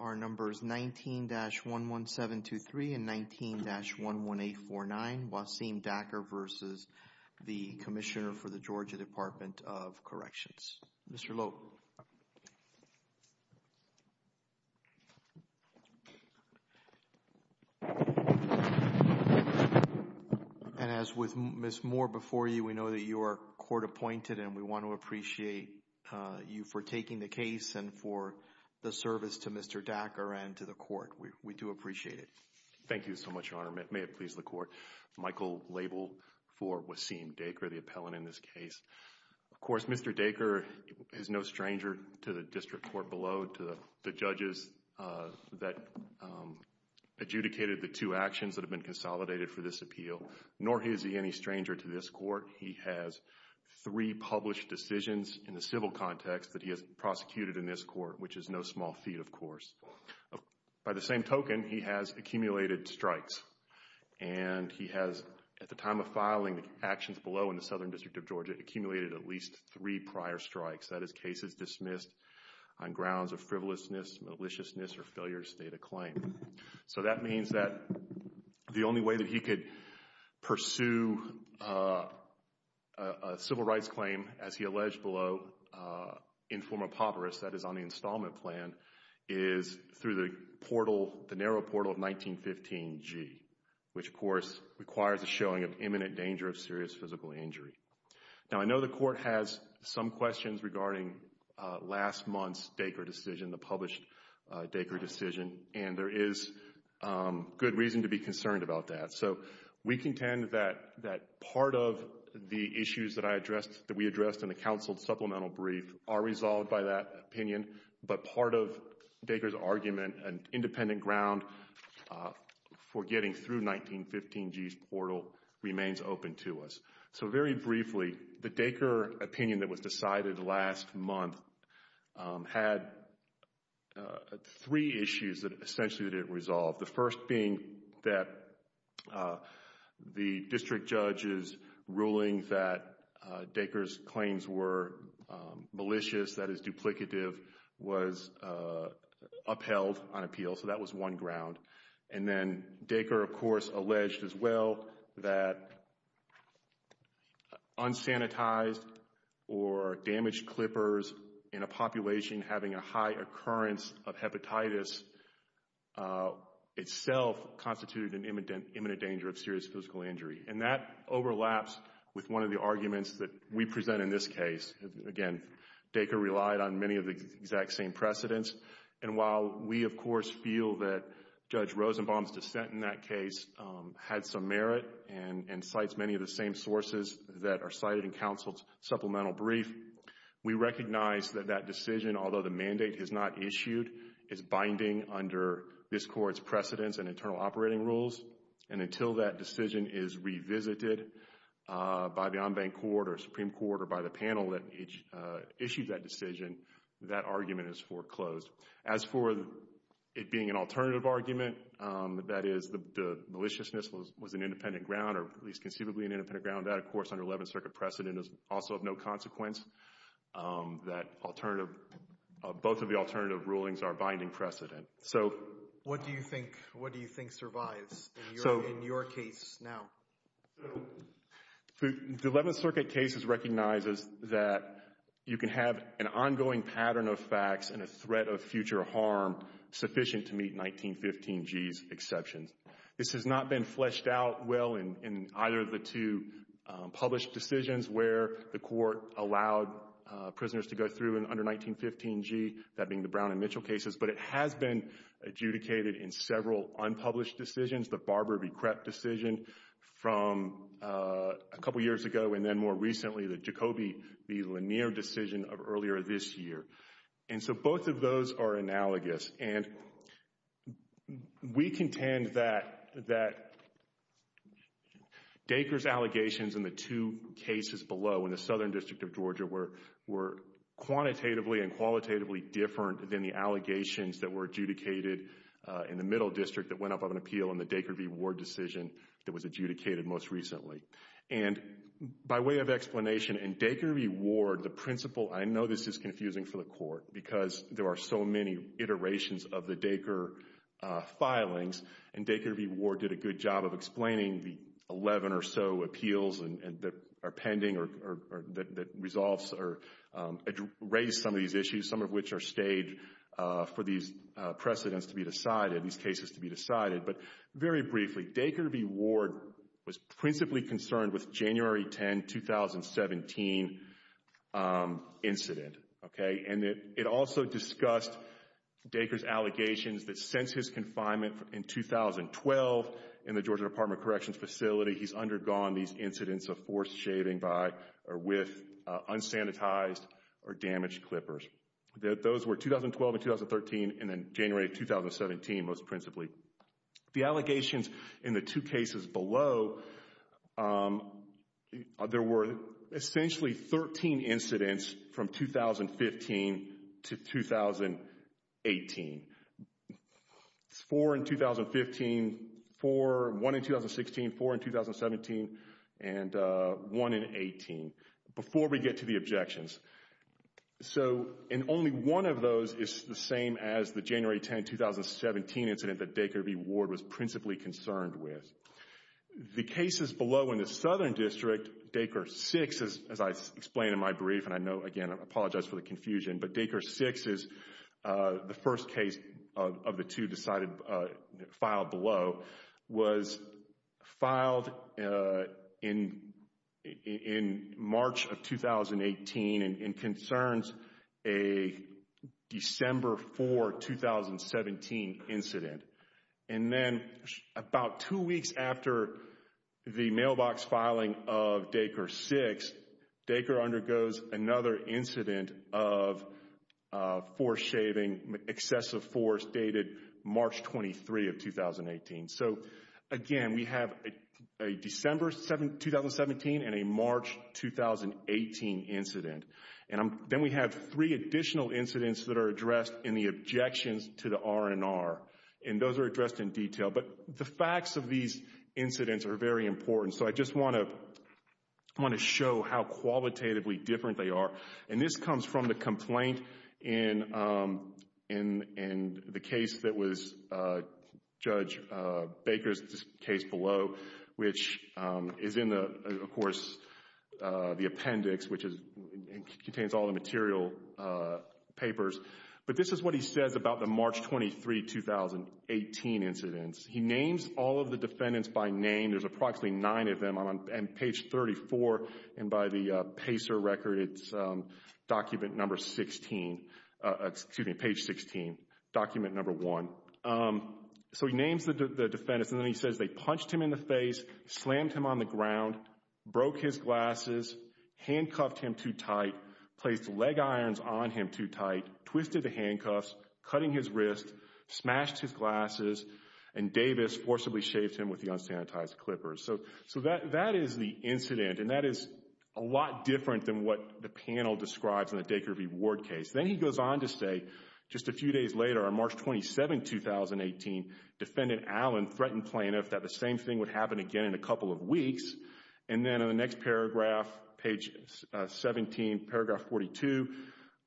are numbers 19-11723 and 19-11849, Waseem Daker v. Commissioner, Georgia Department of Corrections. Mr. Loeb. And as with Ms. Moore before you, we know that you are court appointed and we want to back our end to the court. We do appreciate it. Thank you so much, Your Honor. May it please the court. Michael Label for Waseem Daker, the appellant in this case. Of course, Mr. Daker is no stranger to the district court below, to the judges that adjudicated the two actions that have been consolidated for this appeal, nor is he any stranger to this court. He has three published decisions in the civil context that he has prosecuted in this court, which is no small feat, of course. By the same token, he has accumulated strikes and he has, at the time of filing the actions below in the Southern District of Georgia, accumulated at least three prior strikes, that is cases dismissed on grounds of frivolousness, maliciousness, or failure to state a claim. So that means that the only way that he could pursue a civil rights claim, as he alleged below, in form of papyrus, that is on the installment plan, is through the portal, the narrow portal of 1915G, which, of course, requires a showing of imminent danger of serious physical injury. Now, I know the court has some questions regarding last month's Daker decision, the published Daker decision, and there is good reason to be concerned about that. So, we contend that part of the issues that I addressed, that we addressed in the counseled supplemental brief, are resolved by that opinion, but part of Daker's argument and independent ground for getting through 1915G's portal remains open to us. So very briefly, the Daker opinion that was decided last month had three issues that essentially needed it resolved. The first being that the district judge's ruling that Daker's claims were malicious, that is duplicative, was upheld on appeal, so that was one ground. And then Daker, of course, alleged as well that unsanitized or damaged clippers in a itself constituted an imminent danger of serious physical injury. And that overlaps with one of the arguments that we present in this case. Again, Daker relied on many of the exact same precedents. And while we, of course, feel that Judge Rosenbaum's dissent in that case had some merit and cites many of the same sources that are cited in counsel's supplemental brief, we recognize that that decision, although the mandate is not issued, is binding under this court's precedents and internal operating rules. And until that decision is revisited by the on-bank court or Supreme Court or by the panel that issued that decision, that argument is foreclosed. As for it being an alternative argument, that is the maliciousness was an independent ground or at least conceivably an independent ground, that, of course, under Eleventh Circuit precedent is also of no consequence, that alternative, both of the alternative rulings are binding precedent. So... What do you think, what do you think survives in your case now? The Eleventh Circuit case recognizes that you can have an ongoing pattern of facts and a threat of future harm sufficient to meet 1915G's exceptions. This has not been fleshed out well in either of the two published decisions where the court allowed prisoners to go through under 1915G, that being the Brown and Mitchell cases, but it has been adjudicated in several unpublished decisions, the Barber v. Krep decision from a couple years ago and then more recently the Jacoby v. Lanier decision of earlier this year. And so both of those are analogous and we contend that, that Dacre's allegations in the two cases below in the Southern District of Georgia were, were quantitatively and qualitatively different than the allegations that were adjudicated in the Middle District that went up on an appeal in the Dacre v. Ward decision that was adjudicated most recently. And by way of explanation, in Dacre v. Ward, the principle, I know this is confusing for the court because there are so many iterations of the Dacre filings and Dacre v. Ward did a good job of explaining the 11 or so appeals that are pending or that resolves or raise some of these issues, some of which are staged for these precedents to be decided, these cases to be decided, but very briefly, Dacre v. Ward was principally concerned with January 10, 2017 incident, okay, and it, it also discussed Dacre's allegations that since his confinement in 2012 in the Georgia Department of Corrections facility, he's undergone these incidents of forced shaving by or with unsanitized or damaged clippers. Those were 2012 and 2013 and then January 2017 most principally. The allegations in the two cases below, there were essentially 13 incidents from 2015 to 2018. Four in 2015, four, one in 2016, four in 2017, and one in 18, before we get to the objections. So, and only one of those is the same as the January 10, 2017 incident that Dacre v. Ward was principally concerned with. The cases below in the Southern District, Dacre 6, as I explained in my brief, and I know, again, I apologize for the confusion, but Dacre 6 is the first case of the two decided, filed below, was filed in, in March of 2018 and concerns a December 4, 2017 incident. And then about two weeks after the mailbox filing of Dacre 6, Dacre undergoes another incident of forced shaving, excessive force, dated March 23 of 2018. So again, we have a December 2017 and a March 2018 incident and then we have three additional incidents that are addressed in the objections to the R&R and those are addressed in detail. But the facts of these incidents are very important, so I just want to, I want to show how qualitatively different they are. And this comes from the complaint in, in, in the case that was Judge Dacre's case below, which is in the, of course, the appendix, which contains all the material papers. But this is what he says about the March 23, 2018 incidents. He names all of the defendants by name, there's approximately nine of them on page 34 and by the PACER record, it's document number 16, excuse me, page 16, document number one. So he names the defendants and then he says they punched him in the face, slammed him on the ground, broke his glasses, handcuffed him too tight, placed leg irons on him too tight, twisted the handcuffs, cutting his wrist, smashed his glasses, and Davis forcibly shaved him with the unsanitized clippers. So, so that, that is the incident and that is a lot different than what the panel describes in the Dacre v. Ward case. Then he goes on to say, just a few days later, on March 27, 2018, Defendant Allen threatened plaintiff that the same thing would happen again in a couple of weeks. And then in the next paragraph, page 17, paragraph 42,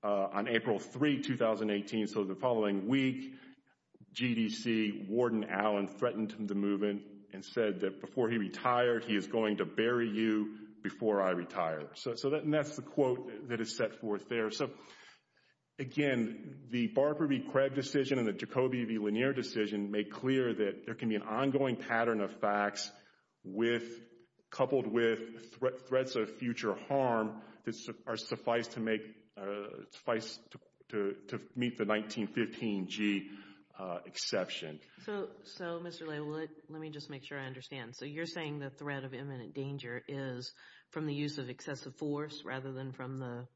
on April 3, 2018, so the following week, GDC, Warden Allen threatened the movement and said that before he retired, he is going to bury you before I retire. So that, and that's the quote that is set forth there. So, again, the Barber v. Craig decision and the Jacoby v. Lanier decision make clear that there can be an ongoing pattern of facts with, coupled with threats of future harm that are suffice to make, suffice to, to meet the 1915G exception. So, so, Mr. Laywood, let me just make sure I understand. So you're saying the threat of imminent danger is from the use of excessive force rather than from the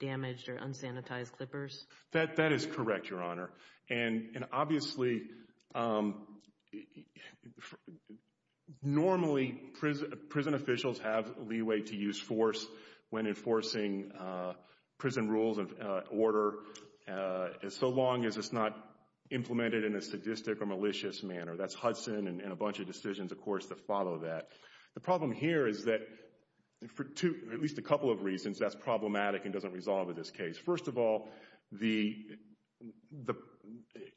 damaged or unsanitized clippers? That is correct, Your Honor, and, and obviously, normally prison, prison officials have leeway to use force when enforcing prison rules of order, so long as it's not implemented in a sadistic or malicious manner. That's Hudson and a bunch of decisions, of course, that follow that. The problem here is that for two, at least a couple of reasons, that's problematic and doesn't resolve in this case. First of all, the, the,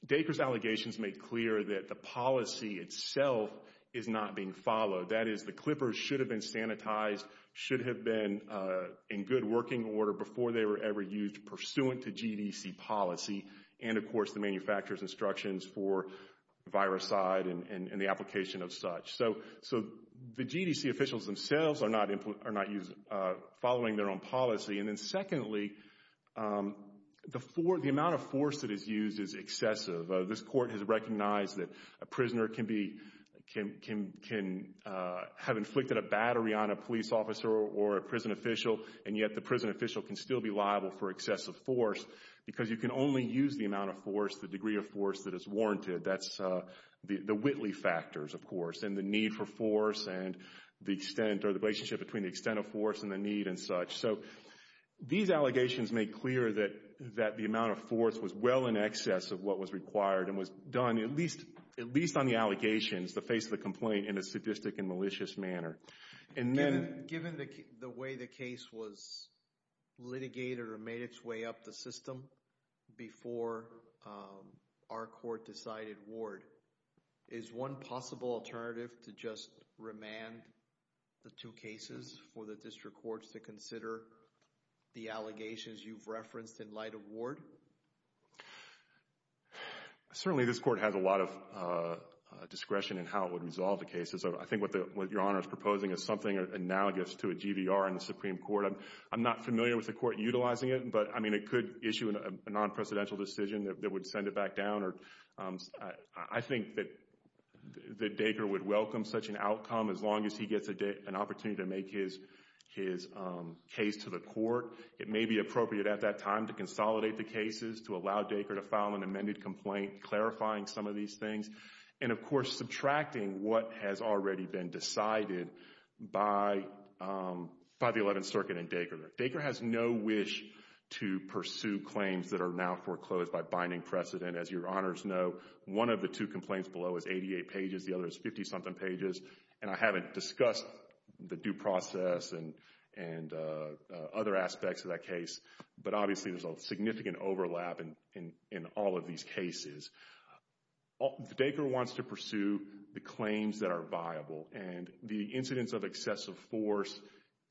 Dacre's allegations make clear that the policy itself is not being followed. That is, the clippers should have been sanitized, should have been in good working order before they were ever used pursuant to GDC policy, and of course, the manufacturer's instructions for viricide and, and the application of such. So, so the GDC officials themselves are not, are not using, following their own policy. And then secondly, the, the amount of force that is used is excessive. This court has recognized that a prisoner can be, can, can, can have inflicted a battery on a police officer or a prison official, and yet the prison official can still be liable for excessive force because you can only use the amount of force, the degree of force that is warranted. That's the, the Whitley factors, of course, and the need for force and the extent or the relationship between the extent of force and the need and such. So, these allegations make clear that, that the amount of force was well in excess of what was required and was done at least, at least on the allegations to face the complaint in a sadistic and malicious manner. And then... Given the, the way the case was litigated or made its way up the system before our court decided Ward, is one possible alternative to just remand the two cases for the district courts to consider the allegations you've referenced in light of Ward? Certainly, this court has a lot of discretion in how it would resolve the cases. I think what the, what Your Honor is proposing is something analogous to a GVR in the Supreme Court. I'm not familiar with the court utilizing it, but, I mean, it could issue a non-presidential decision that would send it back down or, I think that, that Dacre would welcome such an outcome as long as he gets an opportunity to make his, his case to the court. It may be appropriate at that time to consolidate the cases, to allow Dacre to file an amended complaint clarifying some of these things, and of course, subtracting what has already been decided by, by the Eleventh Circuit and Dacre. Dacre has no wish to pursue claims that are now foreclosed by binding precedent. As Your Honors know, one of the two complaints below is 88 pages, the other is 50-something pages, and I haven't discussed the due process and, and other aspects of that case, but obviously there's a significant overlap in, in, in all of these cases. Dacre wants to pursue the claims that are viable, and the incidents of excessive force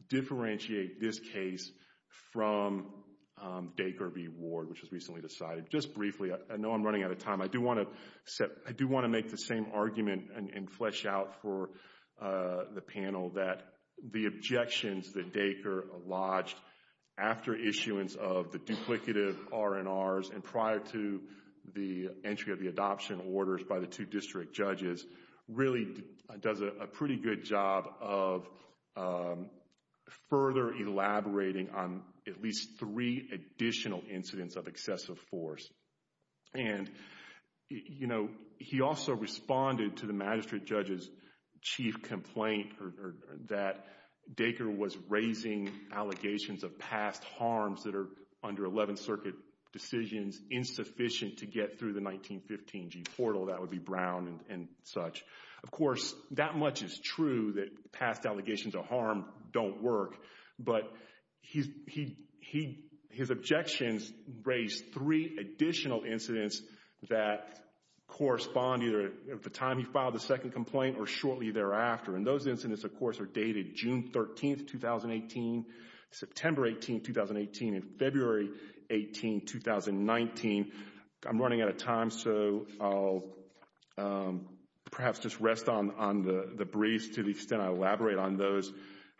differentiate this case from Dacre v. Ward, which was recently decided. Just briefly, I know I'm running out of time, I do want to set, I do want to make the same argument and, and flesh out for the panel that the objections that Dacre lodged after issuance of the duplicative R&Rs and prior to the entry of the adoption orders by the two district judges really does a pretty good job of further elaborating on at least three additional incidents of excessive force. And, you know, he also responded to the magistrate judge's chief complaint that Dacre was raising allegations of past harms that are under Eleventh Circuit decisions insufficient to get through the 1915 G-Portal, that would be Brown and, and such. Of course, that much is true that past allegations of harm don't work, but he, he, he, his objections raise three additional incidents that correspond either at the time he filed the second complaint or shortly thereafter. And those incidents, of course, are dated June 13th, 2018, September 18th, 2018, and February 18th, 2019. I'm running out of time, so I'll perhaps just rest on, on the, the briefs to the extent I elaborate on those.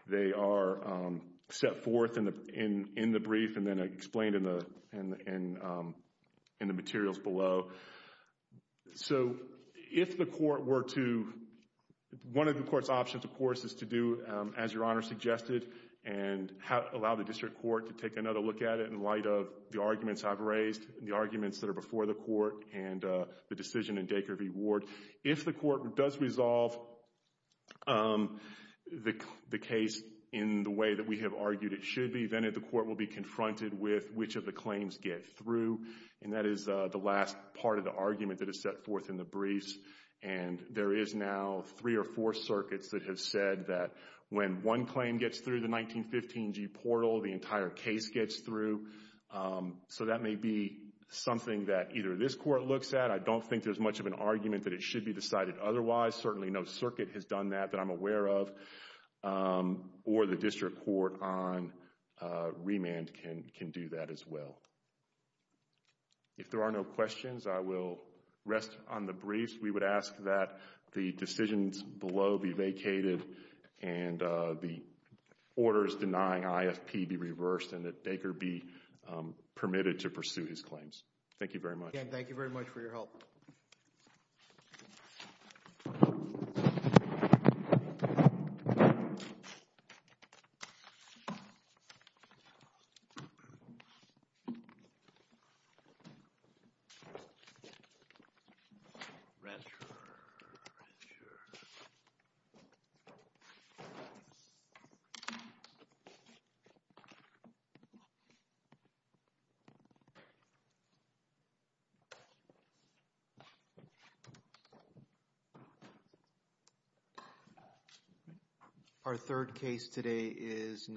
They are set forth in the, in, in the brief and then explained in the, in, in, in the materials below. So, if the court were to, one of the court's options, of course, is to do, as Your Honor suggested, and allow the district court to take another look at it in light of the arguments I've raised, the arguments that are before the court, and the decision in Dacre v. Ward. If the court does resolve the, the case in the way that we have argued it should be, then the court will be confronted with which of the claims get through, and that is the last part of the argument that is set forth in the briefs. And there is now three or four circuits that have said that when one claim gets through the 1915G portal, the entire case gets through. So, that may be something that either this court looks at. I don't think there's much of an argument that it should be decided otherwise. Certainly, no circuit has done that that I'm aware of, or the district court on remand can, can do that as well. If there are no questions, I will rest on the briefs. We would ask that the decisions below be vacated and the orders denying IFP be reversed and that Dacre be permitted to pursue his claims. Thank you very much. Again, thank you very much for your help. Thank you. Our third case today is